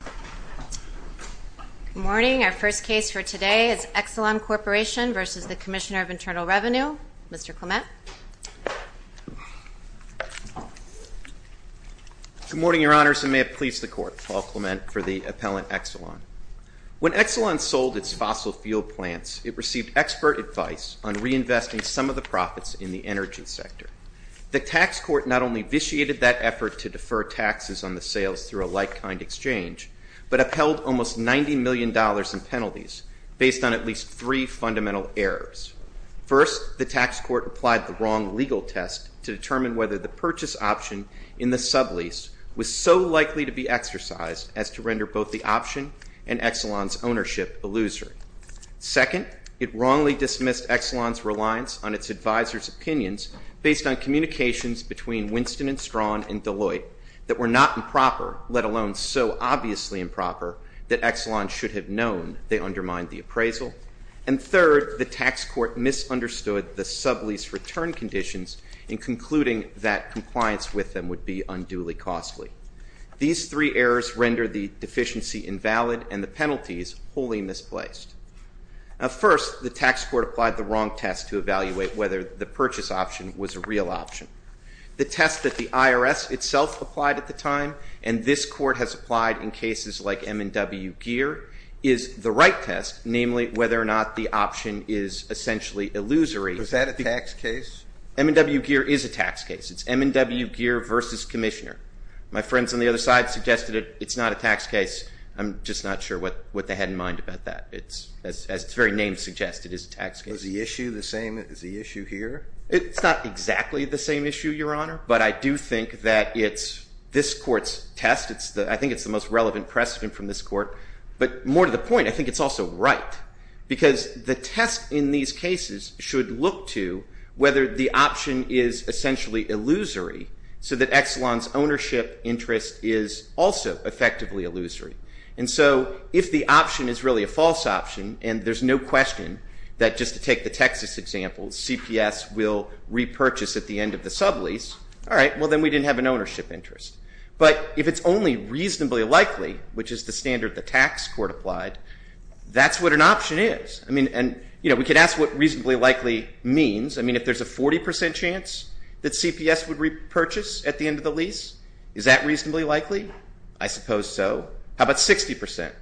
Good morning. Our first case for today is Exelon Corporation v. the Commissioner of Internal Revenue. Mr. Clement. Good morning, Your Honors, and may it please the Court. Paul Clement for the Appellant Exelon. When Exelon sold its fossil fuel plants, it received expert advice on reinvesting some of the profits in the energy sector. The tax court not only vitiated that effort to defer taxes on the sales through a like-kind exchange, but upheld almost $90 million in penalties based on at least three fundamental errors. First, the tax court applied the wrong legal test to determine whether the purchase option in the sublease was so likely to be exercised as to render both the option and Exelon's ownership a loser. Second, it wrongly dismissed Exelon's reliance on its advisers' opinions based on communications between Winston & Strawn and Deloitte that were not improper, let alone so obviously improper, that Exelon should have known they undermined the appraisal. And third, the tax court misunderstood the sublease return conditions in concluding that compliance with them would be unduly costly. These three errors rendered the deficiency invalid and the penalties wholly misplaced. First, the tax court applied the wrong test to evaluate whether the purchase option was a real option. The test that the IRS itself applied at the time and this Court has applied in cases like M&W Gear is the right test, namely whether or not the option is essentially illusory. Was that a tax case? M&W Gear is a tax case. It's M&W Gear v. Commissioner. My friends on the other side suggested it's not a tax case. I'm just not sure what they had in mind about that. It's, as its very name suggests, it is a tax case. Was the issue the same as the issue here? It's not exactly the same issue, Your Honor, but I do think that it's this Court's test. I think it's the most relevant precedent from this Court. But more to the point, I think it's also right because the test in these cases should look to whether the option is essentially illusory so that Exelon's ownership interest is also effectively illusory. And so if the option is really a false option and there's no question that just to take the Texas example, CPS will repurchase at the end of the sublease, all right, well, then we didn't have an ownership interest. But if it's only reasonably likely, which is the standard the tax court applied, that's what an option is. I mean, and, you know, we could ask what reasonably likely means. I mean, if there's a 40 percent chance that CPS would repurchase at the end of the lease, is that reasonably likely? I suppose so. How about 60 percent?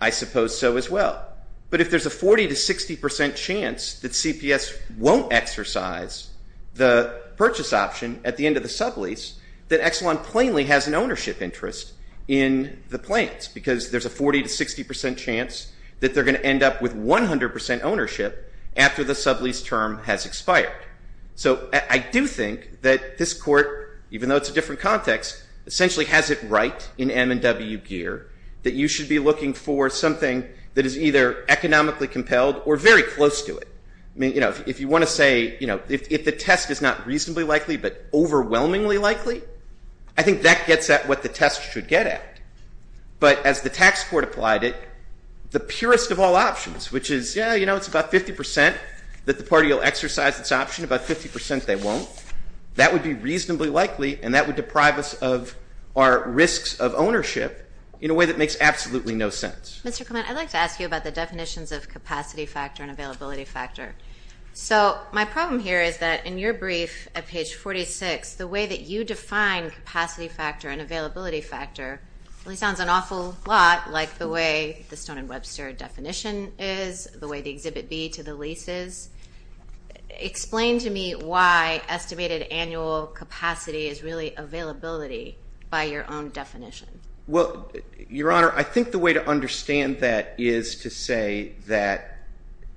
I suppose so as well. But if there's a 40 to 60 percent chance that CPS won't exercise the purchase option at the end of the sublease, then Exelon plainly has an ownership interest in the plaintiffs because there's a 40 to 60 percent chance that they're going to end up with 100 percent ownership after the sublease term has expired. So I do think that this court, even though it's a different context, essentially has it right in M&W gear that you should be looking for something that is either economically compelled or very close to it. I mean, you know, if you want to say, you know, if the test is not reasonably likely but overwhelmingly likely, I think that gets at what the test should get at. But as the tax court applied it, the purest of all options, which is, yeah, you know, it's about 50 percent that the party will exercise its option, about 50 percent they won't, that would be reasonably likely and that would deprive us of our risks of ownership in a way that makes absolutely no sense. Mr. Clement, I'd like to ask you about the definitions of capacity factor and availability factor. So my problem here is that in your brief at page 46, the way that you define capacity factor and availability factor really sounds an awful lot like the way the Stone and Webster definition is, the way the Exhibit B to the lease is. Explain to me why estimated annual capacity is really availability by your own definition. Well, Your Honor, I think the way to understand that is to say that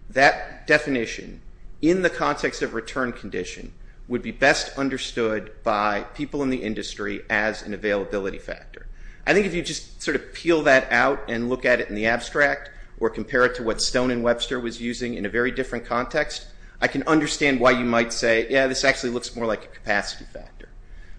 that definition in the context of return condition would be best understood by people in the industry as an availability factor. I think if you just sort of peel that out and look at it in the abstract or compare it to what Stone and Webster was using in a very different context, I can understand why you might say, yeah, this actually looks more like a capacity factor.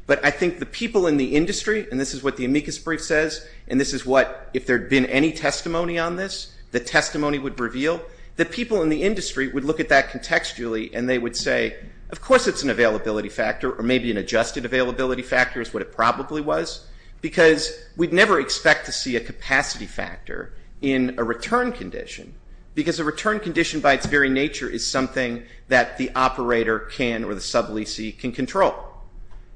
But I think the people in the industry, and this is what the amicus brief says, and this is what if there had been any testimony on this, the testimony would reveal, that people in the industry would look at that contextually and they would say, of course it's an availability factor, or maybe an adjusted availability factor is what it probably was, because we'd never expect to see a capacity factor in a return condition, because a return condition by its very nature is something that the operator can or the sub-leasee can control.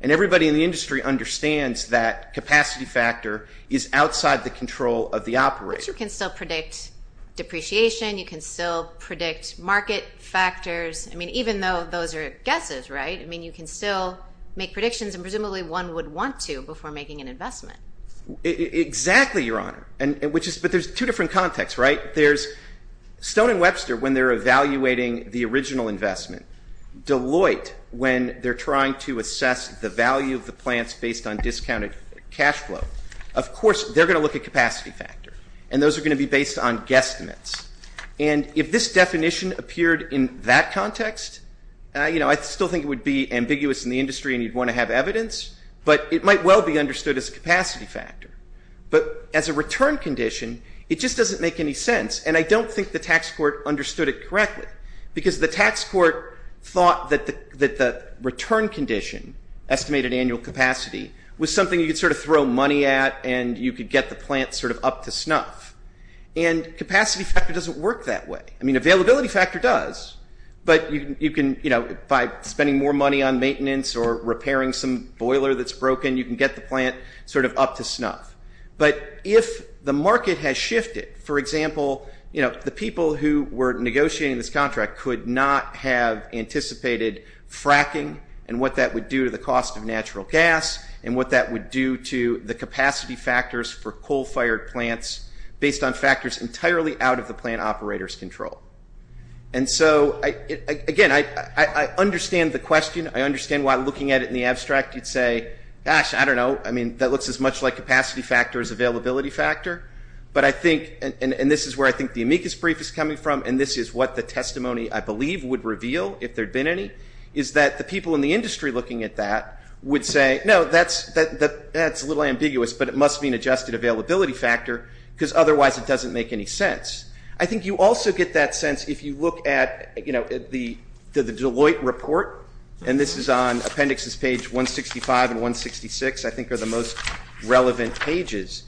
And everybody in the industry understands that capacity factor is outside the control of the operator. But you can still predict depreciation. You can still predict market factors. I mean, even though those are guesses, right? I mean, you can still make predictions, and presumably one would want to before making an investment. Exactly, Your Honor. But there's two different contexts, right? There's Stone and Webster when they're evaluating the original investment. Deloitte, when they're trying to assess the value of the plants based on discounted cash flow. Of course, they're going to look at capacity factor, and those are going to be based on guesstimates. And if this definition appeared in that context, you know, I still think it would be ambiguous in the industry and you'd want to have evidence, but it might well be understood as a capacity factor. But as a return condition, it just doesn't make any sense, and I don't think the tax court understood it correctly, because the tax court thought that the return condition, estimated annual capacity, was something you could sort of throw money at and you could get the plant sort of up to snuff. And capacity factor doesn't work that way. I mean, availability factor does, but you can, you know, by spending more money on maintenance or repairing some boiler that's broken, you can get the plant sort of up to snuff. But if the market has shifted, for example, you know, the people who were negotiating this contract could not have anticipated fracking and what that would do to the cost of natural gas and what that would do to the capacity factors for coal-fired plants based on factors entirely out of the plant operator's control. And so, again, I understand the question. I understand why looking at it in the abstract you'd say, gosh, I don't know. I mean, that looks as much like capacity factor as availability factor. But I think, and this is where I think the amicus brief is coming from, and this is what the testimony, I believe, would reveal if there had been any, is that the people in the industry looking at that would say, no, that's a little ambiguous, but it must be an adjusted availability factor because otherwise it doesn't make any sense. I think you also get that sense if you look at, you know, the Deloitte report, and this is on appendixes page 165 and 166, I think are the most relevant pages.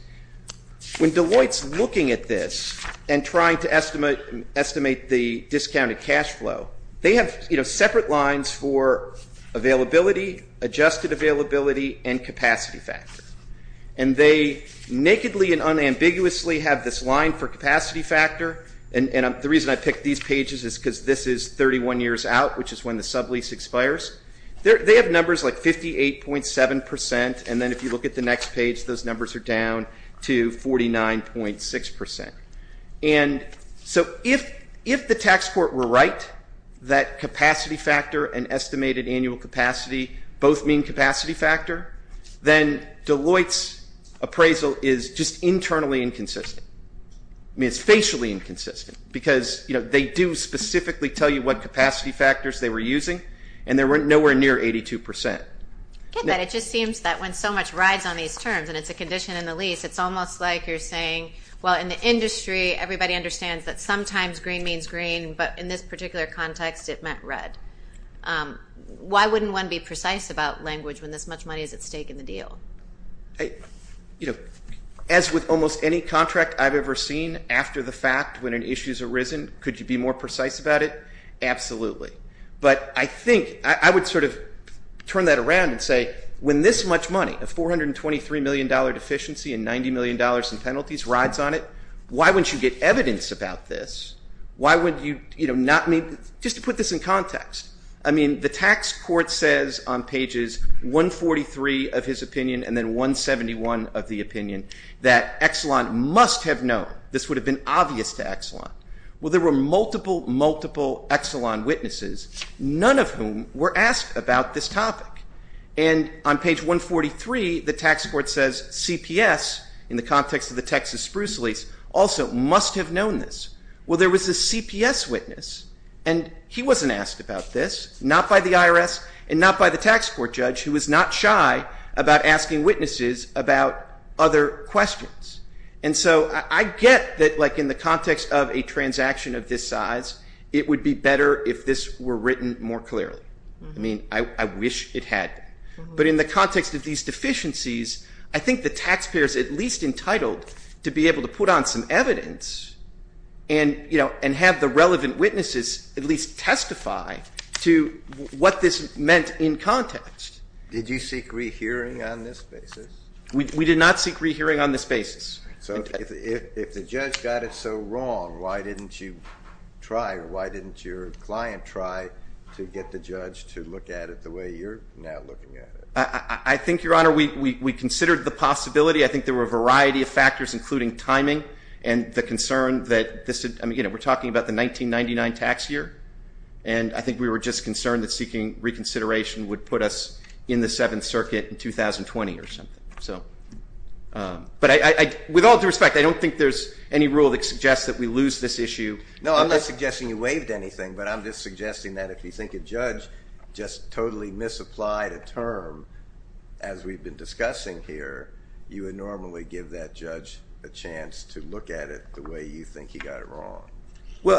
When Deloitte's looking at this and trying to estimate the discounted cash flow, they have separate lines for availability, adjusted availability, and capacity factor. And they nakedly and unambiguously have this line for capacity factor, and the reason I picked these pages is because this is 31 years out, which is when the sublease expires. They have numbers like 58.7 percent, and then if you look at the next page, those numbers are down to 49.6 percent. And so if the tax court were right that capacity factor and estimated annual capacity both mean capacity factor, then Deloitte's appraisal is just internally inconsistent. I mean, it's facially inconsistent because, you know, they do specifically tell you what capacity factors they were using, and they're nowhere near 82 percent. I get that. It just seems that when so much rides on these terms, and it's a condition in the lease, it's almost like you're saying, well, in the industry, everybody understands that sometimes green means green, but in this particular context, it meant red. Why wouldn't one be precise about language when this much money is at stake in the deal? You know, as with almost any contract I've ever seen, after the fact, when an issue's arisen, could you be more precise about it? Absolutely. But I think I would sort of turn that around and say, when this much money, a $423 million deficiency and $90 million in penalties rides on it, why wouldn't you get evidence about this? Why would you not meet? Just to put this in context, I mean, the tax court says on pages 143 of his opinion and then 171 of the opinion that Exelon must have known. This would have been obvious to Exelon. Well, there were multiple, multiple Exelon witnesses, none of whom were asked about this topic. And on page 143, the tax court says CPS, in the context of the Texas Spruce lease, also must have known this. Well, there was a CPS witness, and he wasn't asked about this, not by the IRS and not by the tax court judge, who was not shy about asking witnesses about other questions. And so I get that, like, in the context of a transaction of this size, it would be better if this were written more clearly. I mean, I wish it had been. But in the context of these deficiencies, I think the taxpayer is at least entitled to be able to put on some evidence and, you know, and have the relevant witnesses at least testify to what this meant in context. Did you seek rehearing on this basis? We did not seek rehearing on this basis. So if the judge got it so wrong, why didn't you try and why didn't your client try to get the judge to look at it the way you're now looking at it? I think, Your Honor, we considered the possibility. I think there were a variety of factors, including timing and the concern that this, you know, we're talking about the 1999 tax year, and I think we were just concerned that seeking reconsideration would put us in the Seventh Circuit in 2020 or something. But with all due respect, I don't think there's any rule that suggests that we lose this issue. No, I'm not suggesting you waived anything, but I'm just suggesting that if you think a judge just totally misapplied a term, as we've been discussing here, you would normally give that judge a chance to look at it the way you think he got it wrong. Well,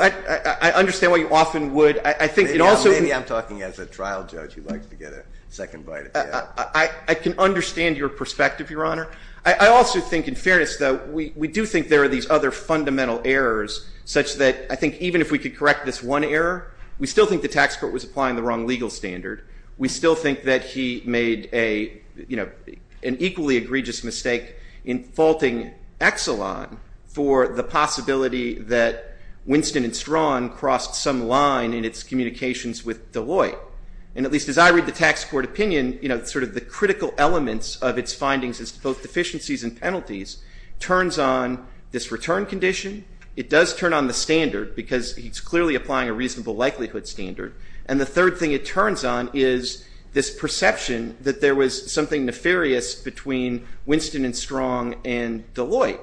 I understand why you often would. Maybe I'm talking as a trial judge who likes to get a second bite at death. I can understand your perspective, Your Honor. I also think, in fairness, though, we do think there are these other fundamental errors, such that I think even if we could correct this one error, we still think the tax court was applying the wrong legal standard. We still think that he made a, you know, an equally egregious mistake in faulting Exelon for the possibility that Winston and Strawn crossed some line in its communications with Deloitte. And at least as I read the tax court opinion, you know, sort of the critical elements of its findings as to both deficiencies and penalties turns on this return condition. It does turn on the standard because he's clearly applying a reasonable likelihood standard. And the third thing it turns on is this perception that there was something nefarious between Winston and Strawn and Deloitte.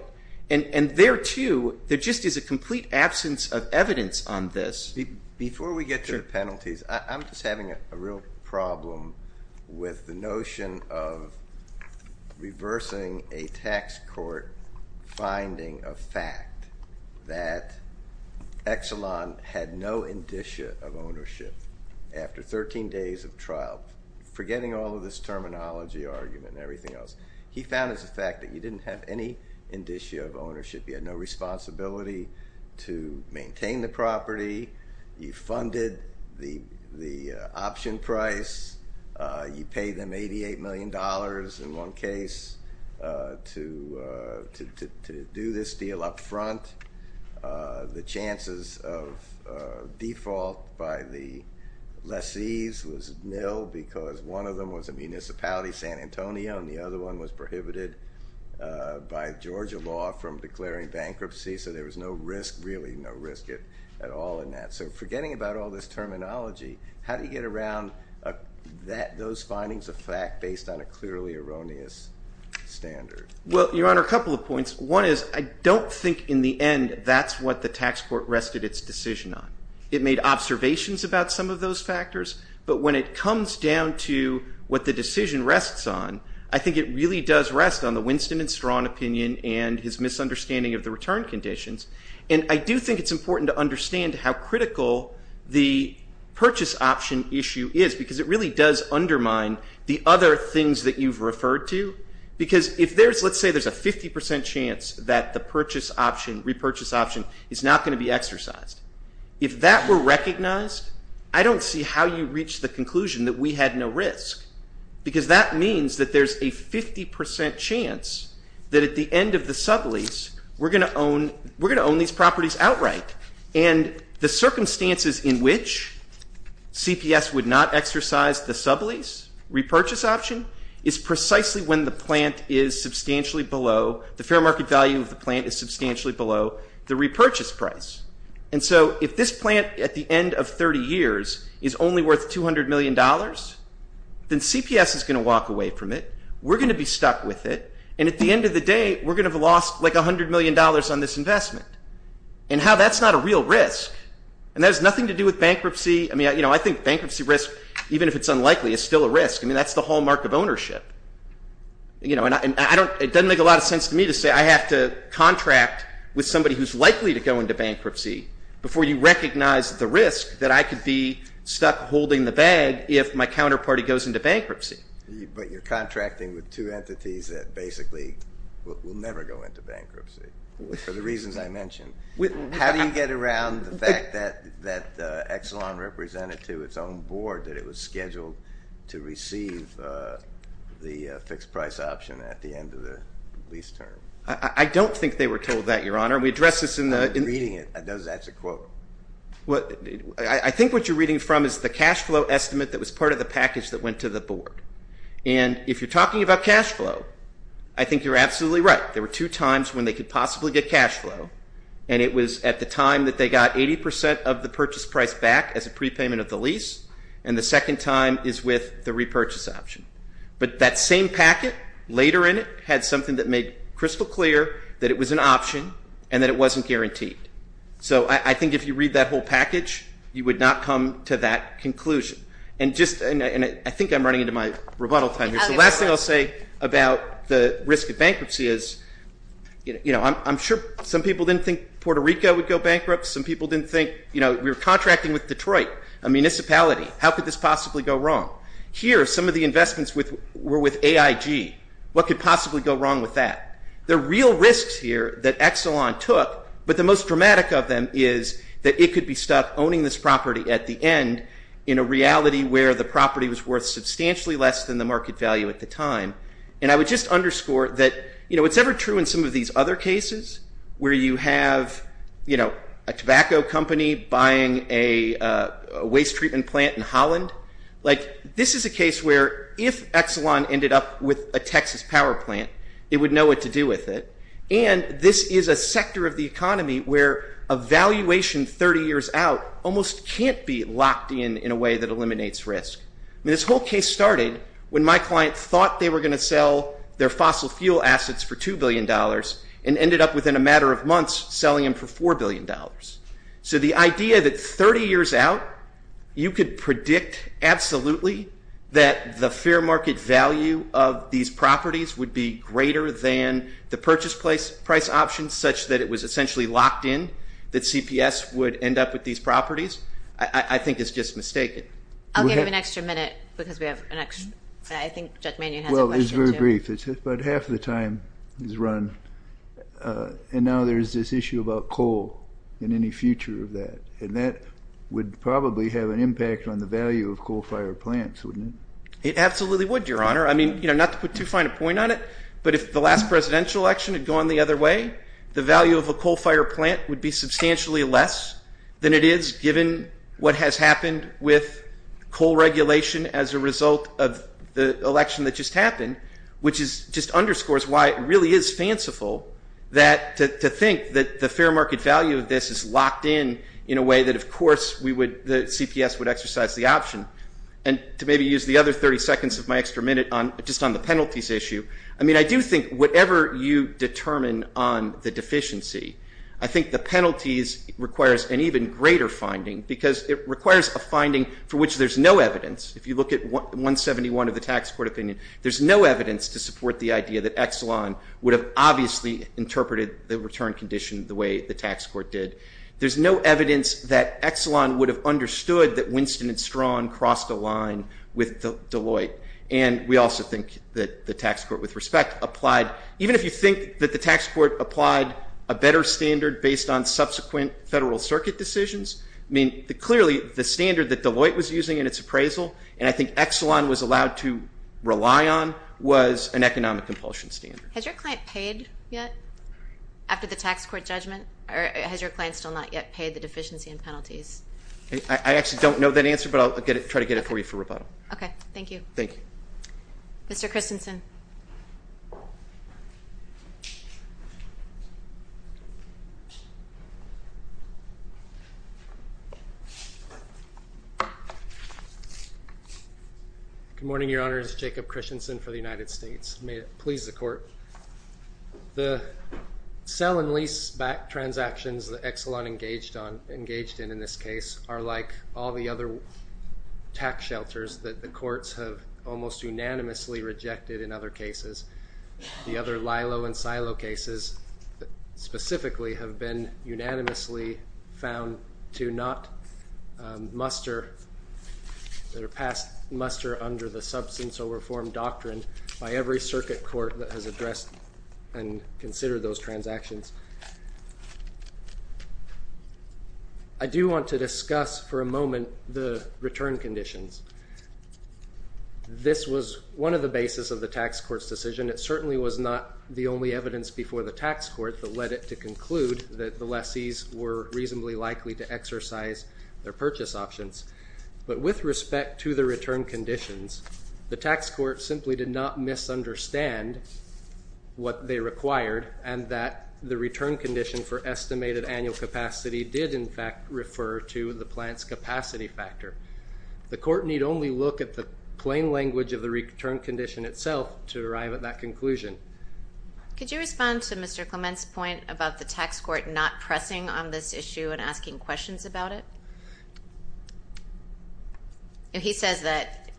And there, too, there just is a complete absence of evidence on this. Before we get to the penalties, I'm just having a real problem with the notion of reversing a tax court finding of fact that Exelon had no indicia of ownership after 13 days of trial, forgetting all of this terminology argument and everything else. He found as a fact that he didn't have any indicia of ownership. He had no responsibility to maintain the property. You funded the option price. You paid them $88 million in one case to do this deal up front. The chances of default by the lessees was nil because one of them was a municipality, San Antonio, and the other one was prohibited by Georgia law from declaring bankruptcy. So there was no risk, really no risk at all in that. So forgetting about all this terminology, how do you get around those findings of fact based on a clearly erroneous standard? Well, Your Honor, a couple of points. One is I don't think in the end that's what the tax court rested its decision on. It made observations about some of those factors, but when it comes down to what the decision rests on, I think it really does rest on the Winston and Strawn opinion and his misunderstanding of the return conditions. And I do think it's important to understand how critical the purchase option issue is because it really does undermine the other things that you've referred to. Because if there's, let's say there's a 50% chance that the purchase option, repurchase option, is not going to be exercised. If that were recognized, I don't see how you reach the conclusion that we had no risk. Because that means that there's a 50% chance that at the end of the sublease, we're going to own these properties outright. And the circumstances in which CPS would not exercise the sublease, repurchase option, is precisely when the plant is substantially below, the fair market value of the plant is substantially below the repurchase price. And so if this plant at the end of 30 years is only worth $200 million, then CPS is going to walk away from it. We're going to be stuck with it. And at the end of the day, we're going to have lost like $100 million on this investment. And how that's not a real risk. And that has nothing to do with bankruptcy. I mean, you know, I think bankruptcy risk, even if it's unlikely, is still a risk. I mean, that's the hallmark of ownership. You know, and it doesn't make a lot of sense to me to say I have to contract with somebody who's likely to go into bankruptcy before you recognize the risk that I could be stuck holding the bag if my counterparty goes into bankruptcy. But you're contracting with two entities that basically will never go into bankruptcy, for the reasons I mentioned. How do you get around the fact that Exelon represented to its own board that it was scheduled to receive the fixed price option at the end of the lease term? I don't think they were told that, Your Honor. We addressed this in the- I'm reading it. That's a quote. I think what you're reading from is the cash flow estimate that was part of the package that went to the board. And if you're talking about cash flow, I think you're absolutely right. There were two times when they could possibly get cash flow. And it was at the time that they got 80% of the purchase price back as a prepayment of the lease. And the second time is with the repurchase option. But that same packet later in it had something that made crystal clear that it was an option and that it wasn't guaranteed. So I think if you read that whole package, you would not come to that conclusion. And I think I'm running into my rebuttal time here. The last thing I'll say about the risk of bankruptcy is I'm sure some people didn't think Puerto Rico would go bankrupt. Some people didn't think we were contracting with Detroit, a municipality. How could this possibly go wrong? Here, some of the investments were with AIG. What could possibly go wrong with that? The real risks here that Exelon took, but the most dramatic of them is that it could be stuck owning this property at the end in a reality where the property was worth substantially less than the market value at the time. And I would just underscore that, you know, it's ever true in some of these other cases where you have, you know, a tobacco company buying a waste treatment plant in Holland. Like, this is a case where if Exelon ended up with a Texas power plant, it would know what to do with it. And this is a sector of the economy where a valuation 30 years out almost can't be locked in in a way that eliminates risk. I mean, this whole case started when my client thought they were going to sell their fossil fuel assets for $2 billion and ended up within a matter of months selling them for $4 billion. So the idea that 30 years out you could predict absolutely that the fair market value of these properties would be greater than the purchase price options such that it was essentially locked in, that CPS would end up with these properties, I think is just mistaken. Thank you. I'll give you an extra minute because we have an extra, I think Judge Manion has a question, too. Well, it's very brief. It's about half the time is run. And now there's this issue about coal and any future of that. And that would probably have an impact on the value of coal-fired plants, wouldn't it? It absolutely would, Your Honor. I mean, you know, not to put too fine a point on it, but if the last presidential election had gone the other way, the value of a coal-fired plant would be substantially less than it is, given what has happened with coal regulation as a result of the election that just happened, which just underscores why it really is fanciful to think that the fair market value of this is locked in, in a way that, of course, the CPS would exercise the option. And to maybe use the other 30 seconds of my extra minute just on the penalties issue, I mean, I do think whatever you determine on the deficiency, I think the penalties requires an even greater finding because it requires a finding for which there's no evidence. If you look at 171 of the tax court opinion, there's no evidence to support the idea that Exelon would have obviously interpreted the return condition the way the tax court did. There's no evidence that Exelon would have understood that Winston and Strawn crossed a line with Deloitte. And we also think that the tax court, with respect, applied, even if you think that the tax court applied a better standard based on subsequent federal circuit decisions, I mean, clearly, the standard that Deloitte was using in its appraisal, and I think Exelon was allowed to rely on, was an economic compulsion standard. Has your client paid yet after the tax court judgment? Or has your client still not yet paid the deficiency and penalties? I actually don't know that answer, but I'll try to get it for you for rebuttal. Okay, thank you. Thank you. Mr. Christensen. Good morning, Your Honors. Jacob Christensen for the United States. May it please the Court. The sell and lease back transactions that Exelon engaged in in this case are like all the other tax shelters that the courts have almost unanimously rejected in other cases. The other LILO and SILO cases specifically have been unanimously found to not muster, that are past muster under the substance of reform doctrine by every circuit court that has addressed and considered those transactions. I do want to discuss for a moment the return conditions. This was one of the basis of the tax court's decision. It certainly was not the only evidence before the tax court that led it to conclude that the lessees were reasonably likely to exercise their purchase options. But with respect to the return conditions, the tax court simply did not misunderstand what they required and that the return condition for estimated annual capacity did, in fact, refer to the plant's capacity factor. The court need only look at the plain language of the return condition itself to arrive at that conclusion. Could you respond to Mr. Clement's point about the tax court not pressing on this issue and asking questions about it? He says that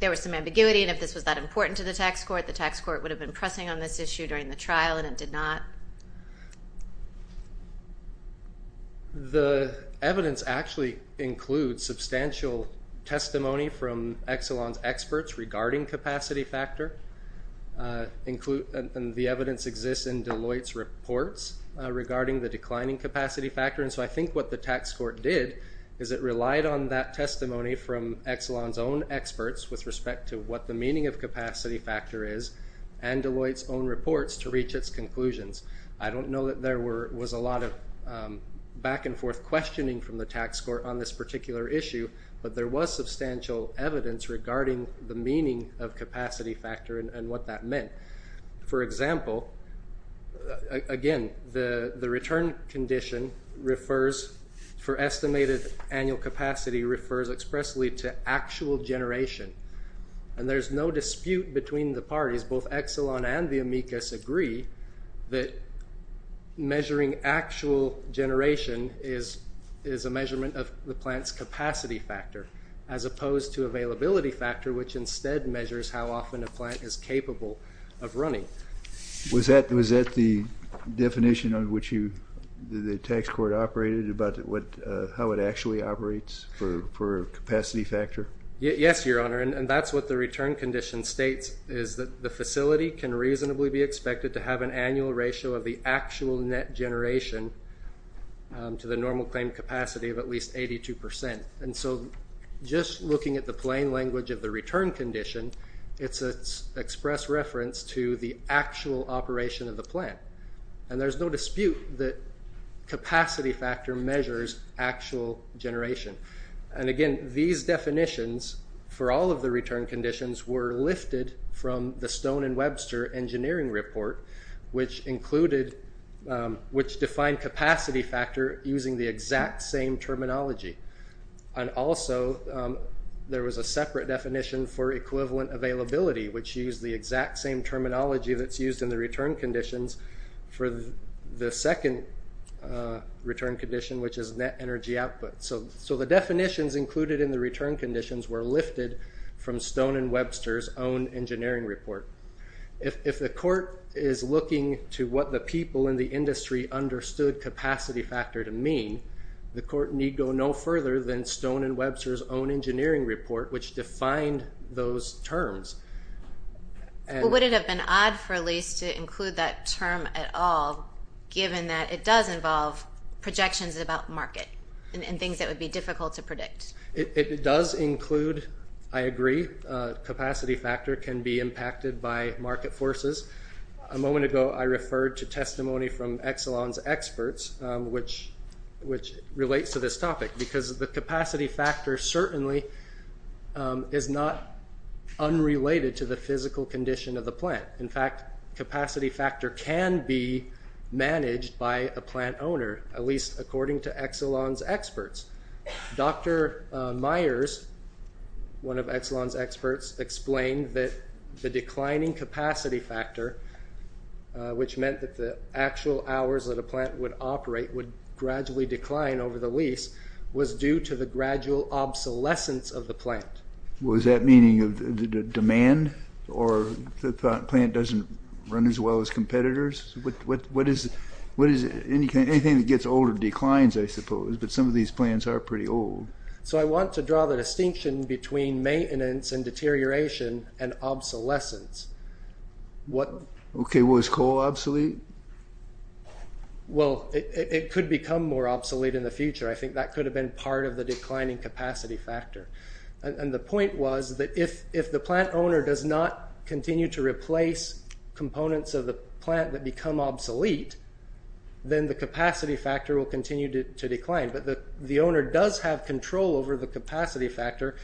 there was some ambiguity and if this was that important to the tax court, the tax court would have been pressing on this issue during the trial and it did not. The evidence actually includes substantial testimony from Exelon's experts regarding capacity factor. The evidence exists in Deloitte's reports regarding the declining capacity factor. I think what the tax court did is it relied on that testimony from Exelon's own experts with respect to what the meaning of capacity factor is and Deloitte's own reports to reach its conclusions. I don't know that there was a lot of back and forth questioning from the tax court on this particular issue, but there was substantial evidence regarding the meaning of capacity factor and what that meant. For example, again, the return condition for estimated annual capacity refers expressly to actual generation and there's no dispute between the parties. Both Exelon and the amicus agree that measuring actual generation is a measurement of the plant's capacity factor as opposed to availability factor, which instead measures how often a plant is capable of running. Was that the definition on which the tax court operated about how it actually operates for capacity factor? Yes, Your Honor, and that's what the return condition states, is that the facility can reasonably be expected to have an annual ratio of the actual net generation to the normal claim capacity of at least 82%. And so just looking at the plain language of the return condition, it's an express reference to the actual operation of the plant. And there's no dispute that capacity factor measures actual generation. And again, these definitions for all of the return conditions were lifted from the Stone and Webster engineering report, which defined capacity factor using the exact same terminology. And also, there was a separate definition for equivalent availability, which used the exact same terminology that's used in the return conditions for the second return condition, which is net energy output. So the definitions included in the return conditions were lifted from Stone and Webster's own engineering report. If the court is looking to what the people in the industry understood capacity factor to mean, the court need go no further than Stone and Webster's own engineering report, which defined those terms. Would it have been odd for a lease to include that term at all, given that it does involve projections about market and things that would be difficult to predict? It does include, I agree, capacity factor can be impacted by market forces. A moment ago, I referred to testimony from Exelon's experts, which relates to this topic, because the capacity factor certainly is not unrelated to the physical condition of the plant. In fact, capacity factor can be managed by a plant owner, at least according to Exelon's experts. Dr. Myers, one of Exelon's experts, explained that the declining capacity factor, which meant that the actual hours that a plant would operate would gradually decline over the lease, was due to the gradual obsolescence of the plant. Was that meaning of demand, or the plant doesn't run as well as competitors? Anything that gets older declines, I suppose, but some of these plants are pretty old. I want to draw the distinction between maintenance and deterioration and obsolescence. Was coal obsolete? Well, it could become more obsolete in the future. I think that could have been part of the declining capacity factor. The point was that if the plant owner does not continue to replace components of the plant that become obsolete, then the capacity factor will continue to decline. But the owner does have control over the capacity factor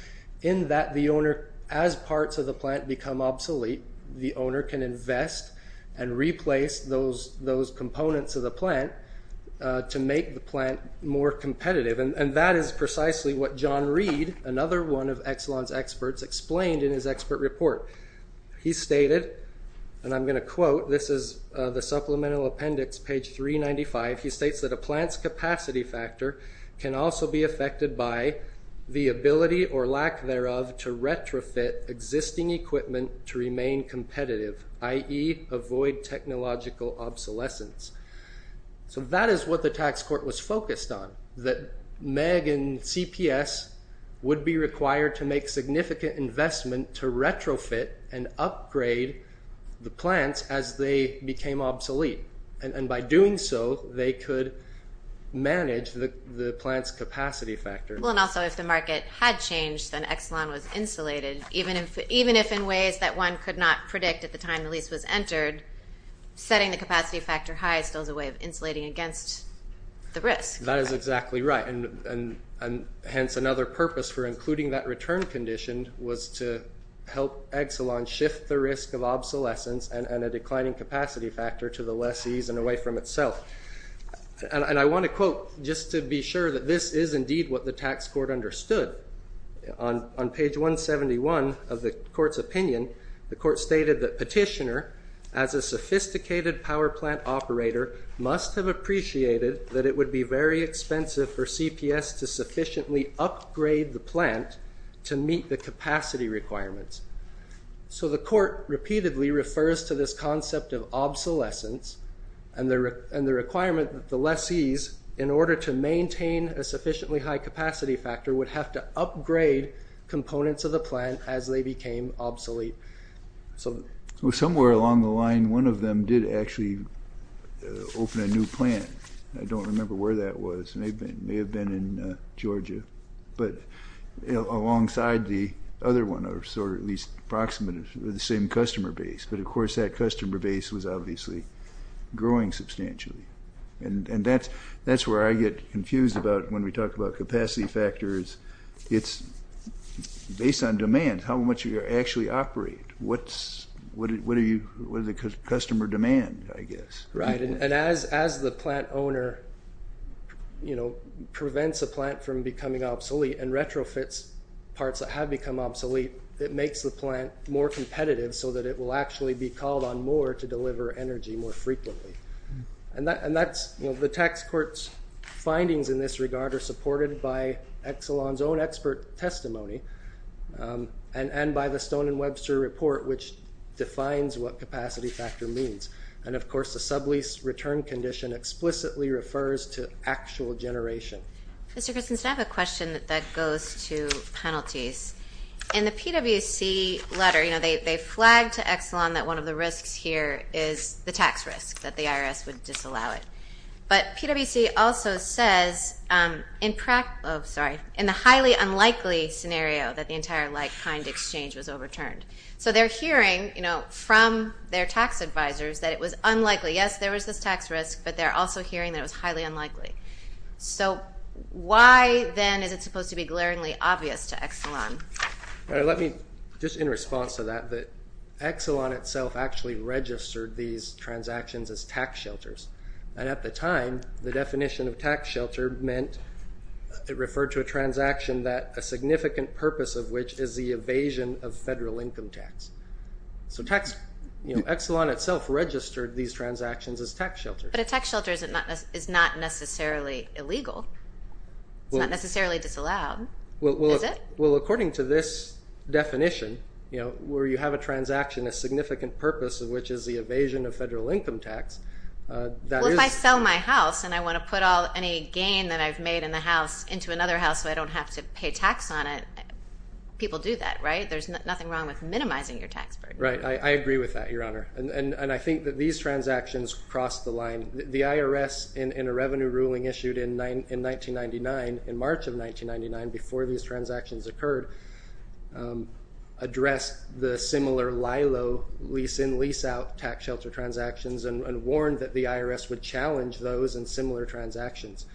in that the owner, as parts of the plant become obsolete, the owner can invest and replace those components of the plant to make the plant more competitive. And that is precisely what John Reed, another one of Exelon's experts, explained in his expert report. He stated, and I'm going to quote, this is the supplemental appendix, page 395. He states that a plant's capacity factor can also be affected by the ability or lack thereof to retrofit existing equipment to remain competitive, i.e. avoid technological obsolescence. So that is what the tax court was focused on, that MEG and CPS would be required to make significant investment to retrofit and upgrade the plants as they became obsolete. And by doing so, they could manage the plant's capacity factor. Well, and also if the market had changed, then Exelon was insulated, even if in ways that one could not predict at the time the lease was entered, setting the capacity factor high still is a way of insulating against the risk. That is exactly right. And hence another purpose for including that return condition was to help Exelon shift the risk of obsolescence and a declining capacity factor to the lessee's and away from itself. And I want to quote just to be sure that this is indeed what the tax court understood. On page 171 of the court's opinion, the court stated that petitioner, as a sophisticated power plant operator, must have appreciated that it would be very expensive for CPS to sufficiently upgrade the plant to meet the capacity requirements. So the court repeatedly refers to this concept of obsolescence and the requirement that the lessee's, in order to maintain a sufficiently high capacity factor, would have to upgrade components of the plant as they became obsolete. So somewhere along the line, one of them did actually open a new plant. I don't remember where that was. It may have been in Georgia, but alongside the other one, or at least approximate of the same customer base. But, of course, that customer base was obviously growing substantially. And that's where I get confused when we talk about capacity factors. It's based on demand, how much you actually operate. What is the customer demand, I guess. Right. And as the plant owner prevents a plant from becoming obsolete and retrofits parts that have become obsolete, it makes the plant more competitive so that it will actually be called on more to deliver energy more frequently. And the tax court's findings in this regard are supported by Exelon's own expert testimony and by the Stone and Webster report, which defines what capacity factor means. And, of course, the sublease return condition explicitly refers to actual generation. Mr. Christensen, I have a question that goes to penalties. In the PWC letter, they flagged to Exelon that one of the risks here is the tax risk, that the IRS would disallow it. But PWC also says in the highly unlikely scenario that the entire like-kind exchange was overturned. So they're hearing from their tax advisors that it was unlikely. Yes, there was this tax risk, but they're also hearing that it was highly unlikely. So why, then, is it supposed to be glaringly obvious to Exelon? Just in response to that, Exelon itself actually registered these transactions as tax shelters. And at the time, the definition of tax shelter meant it referred to a transaction that a significant purpose of which is the evasion of federal income tax. So Exelon itself registered these transactions as tax shelters. But a tax shelter is not necessarily illegal. It's not necessarily disallowed, is it? Well, according to this definition, where you have a transaction, a significant purpose of which is the evasion of federal income tax. Well, if I sell my house and I want to put all any gain that I've made in the house into another house so I don't have to pay tax on it, people do that, right? There's nothing wrong with minimizing your tax burden. Right. I agree with that, Your Honor. And I think that these transactions cross the line. The IRS, in a revenue ruling issued in 1999, in March of 1999, before these transactions occurred, addressed the similar LILO lease-in, lease-out tax shelter transactions and warned that the IRS would challenge those in similar transactions.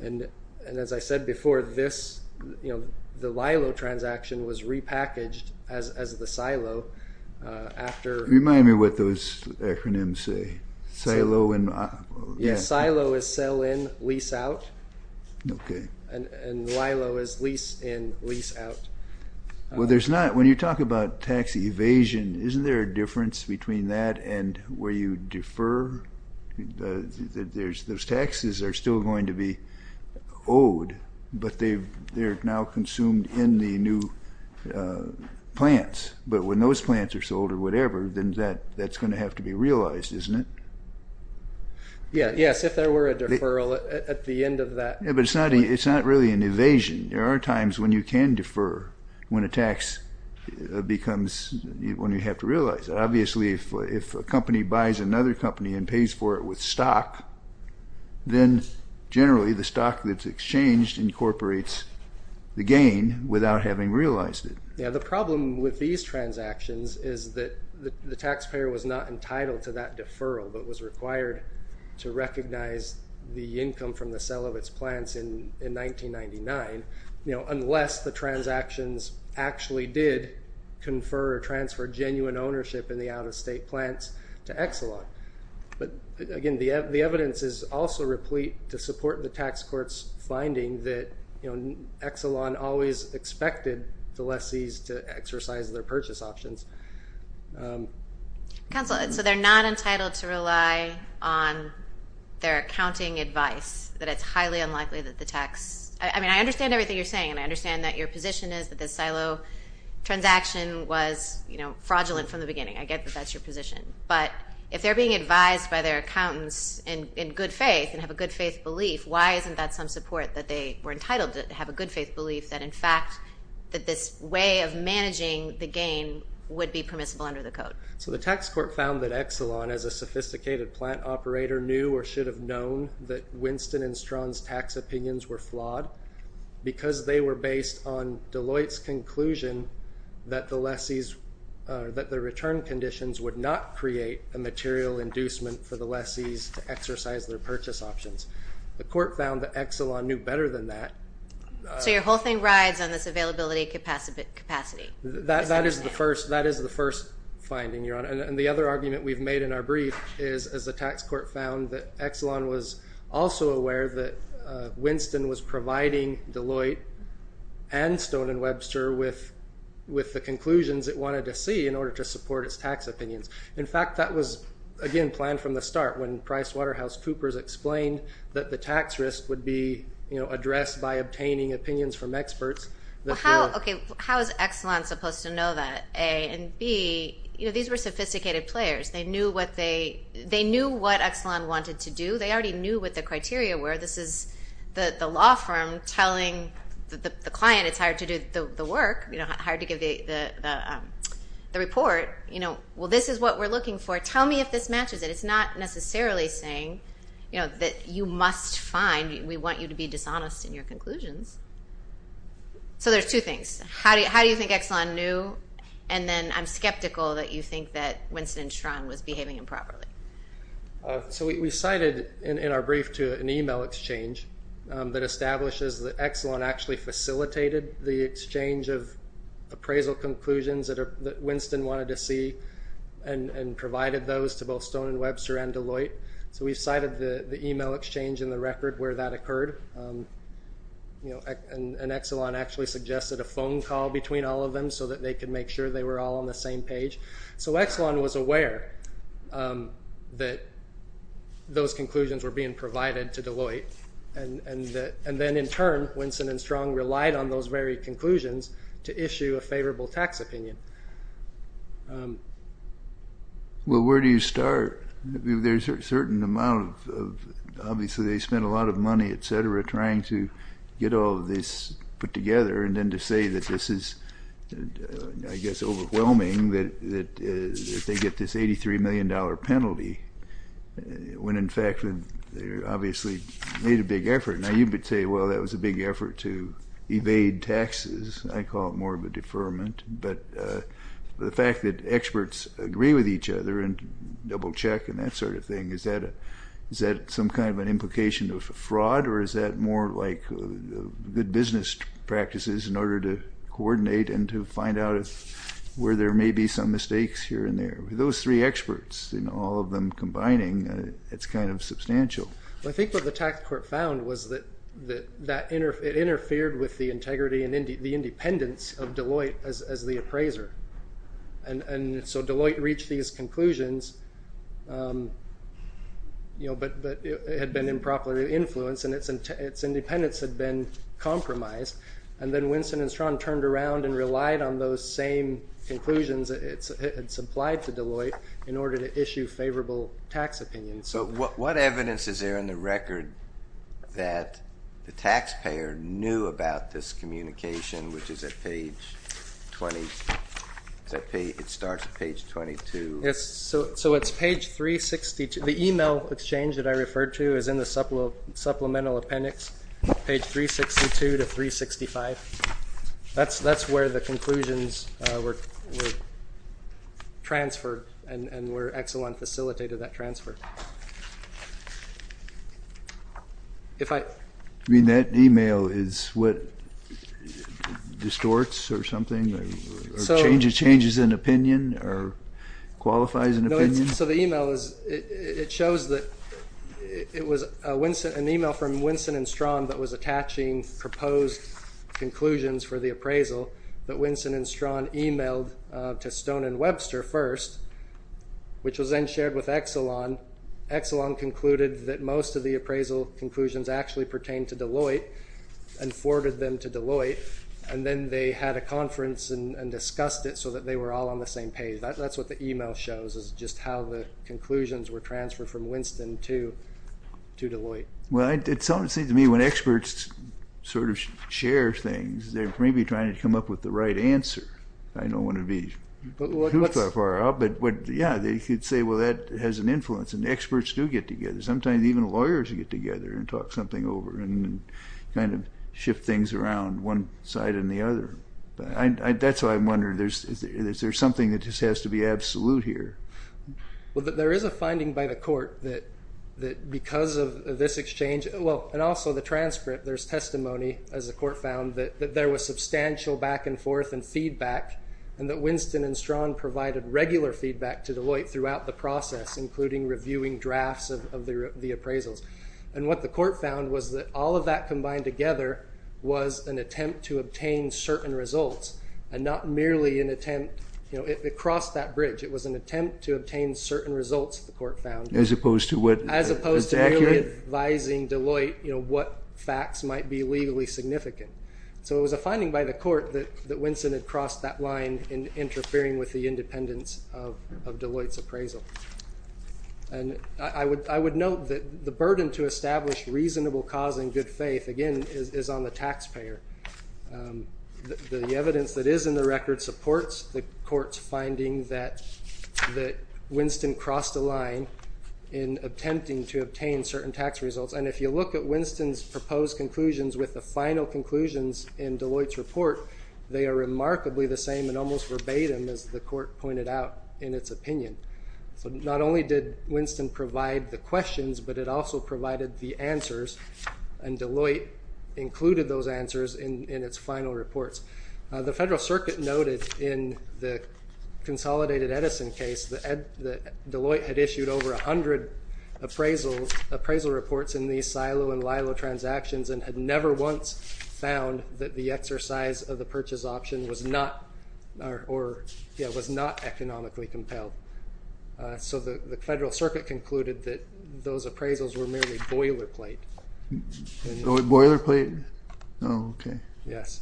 And as I said before, this, you know, the LILO transaction was repackaged as the SILO after— Yes, SILO is sell-in, lease-out. Okay. And LILO is lease-in, lease-out. Well, there's not—when you talk about tax evasion, isn't there a difference between that and where you defer? Those taxes are still going to be owed, but they're now consumed in the new plants. But when those plants are sold or whatever, then that's going to have to be realized, isn't it? Yes, if there were a deferral at the end of that— Yeah, but it's not really an evasion. There are times when you can defer when a tax becomes—when you have to realize it. Obviously, if a company buys another company and pays for it with stock, then generally the stock that's exchanged incorporates the gain without having realized it. Yeah, the problem with these transactions is that the taxpayer was not entitled to that deferral but was required to recognize the income from the sale of its plants in 1999, you know, unless the transactions actually did confer or transfer genuine ownership in the out-of-state plants to Exelon. But again, the evidence is also replete to support the tax court's finding that Exelon always expected the lessees to exercise their purchase options. Counsel, so they're not entitled to rely on their accounting advice, that it's highly unlikely that the tax— I mean, I understand everything you're saying, and I understand that your position is that this silo transaction was fraudulent from the beginning. I get that that's your position. But if they're being advised by their accountants in good faith and have a good faith belief, why isn't that some support that they were entitled to have a good faith belief that, in fact, that this way of managing the gain would be permissible under the code? So the tax court found that Exelon, as a sophisticated plant operator, knew or should have known that Winston and Strawn's tax opinions were flawed because they were based on Deloitte's conclusion that the lessees, that the return conditions would not create a material inducement for the lessees to exercise their purchase options. The court found that Exelon knew better than that. So your whole thing rides on this availability capacity. And the other argument we've made in our brief is, as the tax court found, that Exelon was also aware that Winston was providing Deloitte and Stone & Webster with the conclusions it wanted to see in order to support its tax opinions. In fact, that was, again, planned from the start when PricewaterhouseCoopers explained that the tax risk would be addressed by obtaining opinions from experts. How is Exelon supposed to know that? A, and B, these were sophisticated players. They knew what Exelon wanted to do. They already knew what the criteria were. This is the law firm telling the client it's hard to do the work, hard to give the report. Well, this is what we're looking for. Tell me if this matches it. It's not necessarily saying that you must find. We want you to be dishonest in your conclusions. So there's two things. How do you think Exelon knew? And then I'm skeptical that you think that Winston Strang was behaving improperly. So we cited in our brief to an email exchange that establishes that Exelon actually facilitated the exchange of appraisal conclusions that Winston wanted to see and provided those to both Stone & Webster and Deloitte. So we've cited the email exchange in the record where that occurred. And Exelon actually suggested a phone call between all of them so that they could make sure they were all on the same page. So Exelon was aware that those conclusions were being provided to Deloitte. And then in turn, Winston & Strang relied on those very conclusions to issue a favorable tax opinion. Well, where do you start? There's a certain amount of—obviously, they spent a lot of money, et cetera, trying to get all of this put together and then to say that this is, I guess, overwhelming that they get this $83 million penalty when, in fact, they obviously made a big effort. Now, you could say, well, that was a big effort to evade taxes. I call it more of a deferment. But the fact that experts agree with each other and double-check and that sort of thing, is that some kind of an implication of fraud? Or is that more like good business practices in order to coordinate and to find out where there may be some mistakes here and there? With those three experts, all of them combining, it's kind of substantial. Well, I think what the tax court found was that it interfered with the integrity and the independence of Deloitte as the appraiser. And so Deloitte reached these conclusions, but it had been improperly influenced, and its independence had been compromised. And then Winston & Strang turned around and relied on those same conclusions that it had supplied to Deloitte in order to issue favorable tax opinions. So what evidence is there in the record that the taxpayer knew about this communication, which is at page 20? It starts at page 22. Yes, so it's page 362. The email exchange that I referred to is in the supplemental appendix, page 362 to 365. That's where the conclusions were transferred and were excellent facilitated, that transfer. You mean that email is what distorts or something, or changes an opinion or qualifies an opinion? It shows that it was an email from Winston & Strang that was attaching proposed conclusions for the appraisal that Winston & Strang emailed to Stone & Webster first, which was then shared with Exelon. Exelon concluded that most of the appraisal conclusions actually pertained to Deloitte and forwarded them to Deloitte. And then they had a conference and discussed it so that they were all on the same page. That's what the email shows, is just how the conclusions were transferred from Winston to Deloitte. Well, it seems to me when experts sort of share things, they're maybe trying to come up with the right answer. I don't want to be too far off, but yeah, they could say, well, that has an influence. And experts do get together. Sometimes even lawyers get together and talk something over and kind of shift things around one side and the other. That's why I'm wondering, is there something that just has to be absolute here? Well, there is a finding by the court that because of this exchange, well, and also the transcript, there's testimony, as the court found, that there was substantial back and forth and feedback, and that Winston & Strang provided regular feedback to Deloitte throughout the process, including reviewing drafts of the appraisals. And what the court found was that all of that combined together was an attempt to obtain certain results and not merely an attempt. It crossed that bridge. It was an attempt to obtain certain results, the court found. As opposed to what? As opposed to merely advising Deloitte what facts might be legally significant. So it was a finding by the court that Winston had crossed that line in interfering with the independence of Deloitte's appraisal. And I would note that the burden to establish reasonable cause and good faith, again, is on the taxpayer. The evidence that is in the record supports the court's finding that Winston crossed a line in attempting to obtain certain tax results. And if you look at Winston's proposed conclusions with the final conclusions in Deloitte's report, they are remarkably the same and almost verbatim, as the court pointed out in its opinion. So not only did Winston provide the questions, but it also provided the answers, and Deloitte included those answers in its final reports. The Federal Circuit noted in the Consolidated Edison case that Deloitte had issued over 100 appraisal reports in these silo and lilo transactions and had never once found that the exercise of the purchase option was not economically compelled. So the Federal Circuit concluded that those appraisals were merely boilerplate. Boilerplate? Oh, okay. Yes.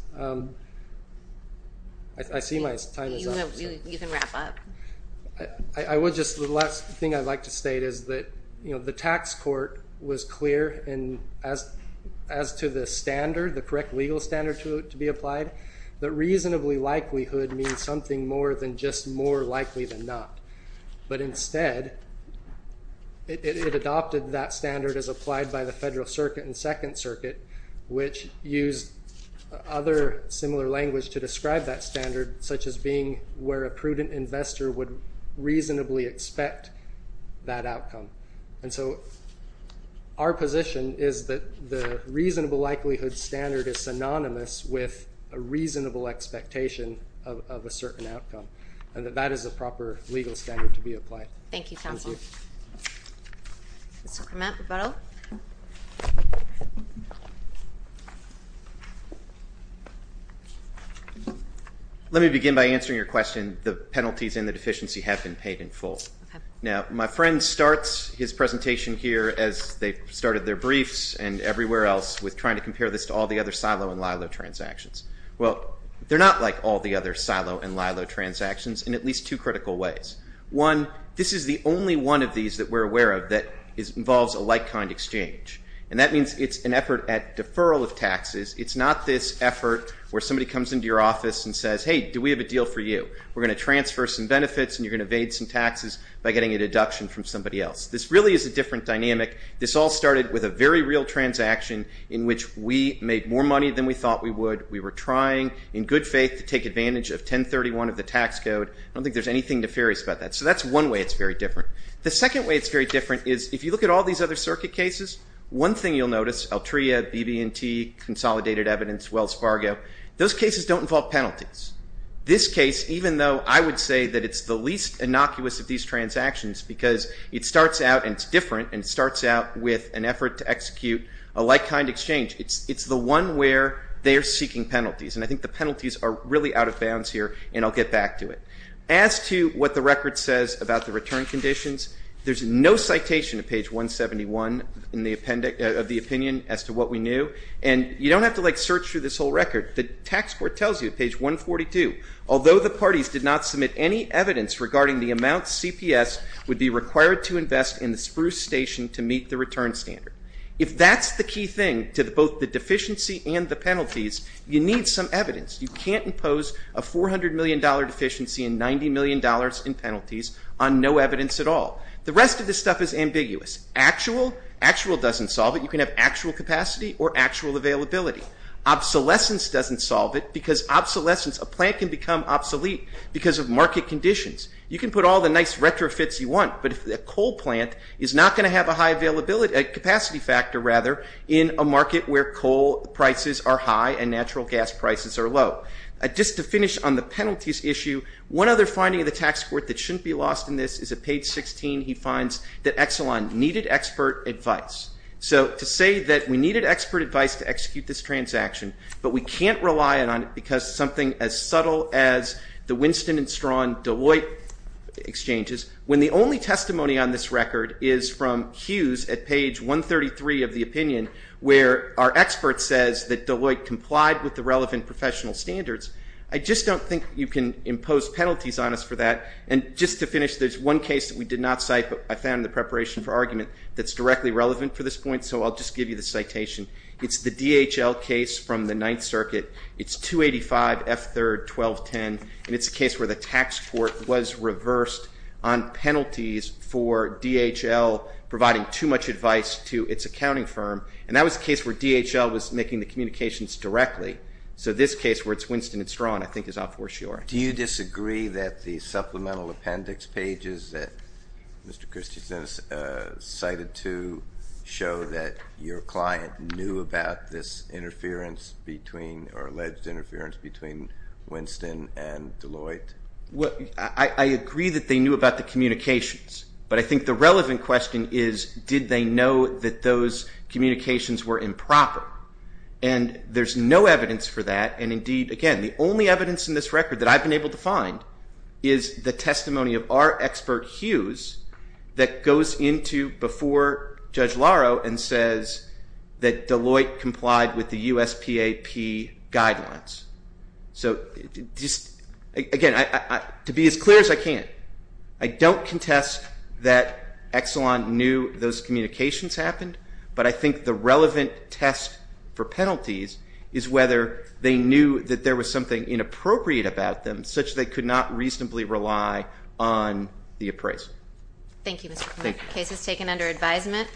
I see my time is up. You can wrap up. The last thing I'd like to state is that the tax court was clear as to the standard, the correct legal standard to be applied, that reasonably likelihood means something more than just more likely than not. But instead, it adopted that standard as applied by the Federal Circuit and Second Circuit, which used other similar language to describe that standard, such as being where a prudent investor would reasonably expect that outcome. And so our position is that the reasonable likelihood standard is synonymous with a reasonable expectation of a certain outcome, and that that is the proper legal standard to be applied. Thank you, counsel. Mr. Mapp, rebuttal. Let me begin by answering your question. The penalties and the deficiency have been paid in full. Now, my friend starts his presentation here as they started their briefs and everywhere else with trying to compare this to all the other silo and lilo transactions. Well, they're not like all the other silo and lilo transactions in at least two critical ways. One, this is the only one of these that we're aware of that involves a like-kind exchange, and that means it's an effort at deferral of taxes. It's not this effort where somebody comes into your office and says, hey, do we have a deal for you? We're going to transfer some benefits and you're going to evade some taxes by getting a deduction from somebody else. This really is a different dynamic. This all started with a very real transaction in which we made more money than we thought we would. We were trying in good faith to take advantage of 1031 of the tax code. I don't think there's anything nefarious about that. So that's one way it's very different. The second way it's very different is if you look at all these other circuit cases, one thing you'll notice, Altria, BB&T, Consolidated Evidence, Wells Fargo, those cases don't involve penalties. This case, even though I would say that it's the least innocuous of these transactions because it starts out and it's different and it starts out with an effort to execute a like-kind exchange, it's the one where they're seeking penalties, and I think the penalties are really out of bounds here, and I'll get back to it. As to what the record says about the return conditions, there's no citation at page 171 of the opinion as to what we knew, and you don't have to, like, search through this whole record. The tax court tells you at page 142, although the parties did not submit any evidence regarding the amount CPS would be required to invest in the Spruce Station to meet the return standard. If that's the key thing to both the deficiency and the penalties, you need some evidence. You can't impose a $400 million deficiency and $90 million in penalties on no evidence at all. The rest of this stuff is ambiguous. Actual, actual doesn't solve it. You can have actual capacity or actual availability. Obsolescence doesn't solve it because obsolescence, a plant can become obsolete because of market conditions. You can put all the nice retrofits you want, but a coal plant is not going to have a high availability, a capacity factor rather, in a market where coal prices are high and natural gas prices are low. Just to finish on the penalties issue, one other finding of the tax court that shouldn't be lost in this is at page 16, he finds that Exelon needed expert advice. So to say that we needed expert advice to execute this transaction, but we can't rely on it because something as subtle as the Winston and Strawn Deloitte exchanges, when the only testimony on this record is from Hughes at page 133 of the opinion, where our expert says that Deloitte complied with the relevant professional standards. I just don't think you can impose penalties on us for that. And just to finish, there's one case that we did not cite, but I found in the preparation for argument, that's directly relevant for this point, so I'll just give you the citation. It's the DHL case from the Ninth Circuit. It's 285 F3, 1210, and it's a case where the tax court was reversed on penalties for DHL providing too much advice to its accounting firm, and that was a case where DHL was making the communications directly. So this case, where it's Winston and Strawn, I think is up for sure. Do you disagree that the supplemental appendix pages that Mr. Christensen cited to show that your client knew about this or alleged interference between Winston and Deloitte? I agree that they knew about the communications, but I think the relevant question is, did they know that those communications were improper? And there's no evidence for that, and indeed, again, the only evidence in this record that I've been able to find is the testimony of our expert, Hughes, that goes into before Judge Laro and says that Deloitte complied with the USPAP guidelines. So just, again, to be as clear as I can, I don't contest that Exelon knew those communications happened, but I think the relevant test for penalties is whether they knew that there was something inappropriate about them such that they could not reasonably rely on the appraiser. Thank you, Mr. Clement. The case is taken under advisement.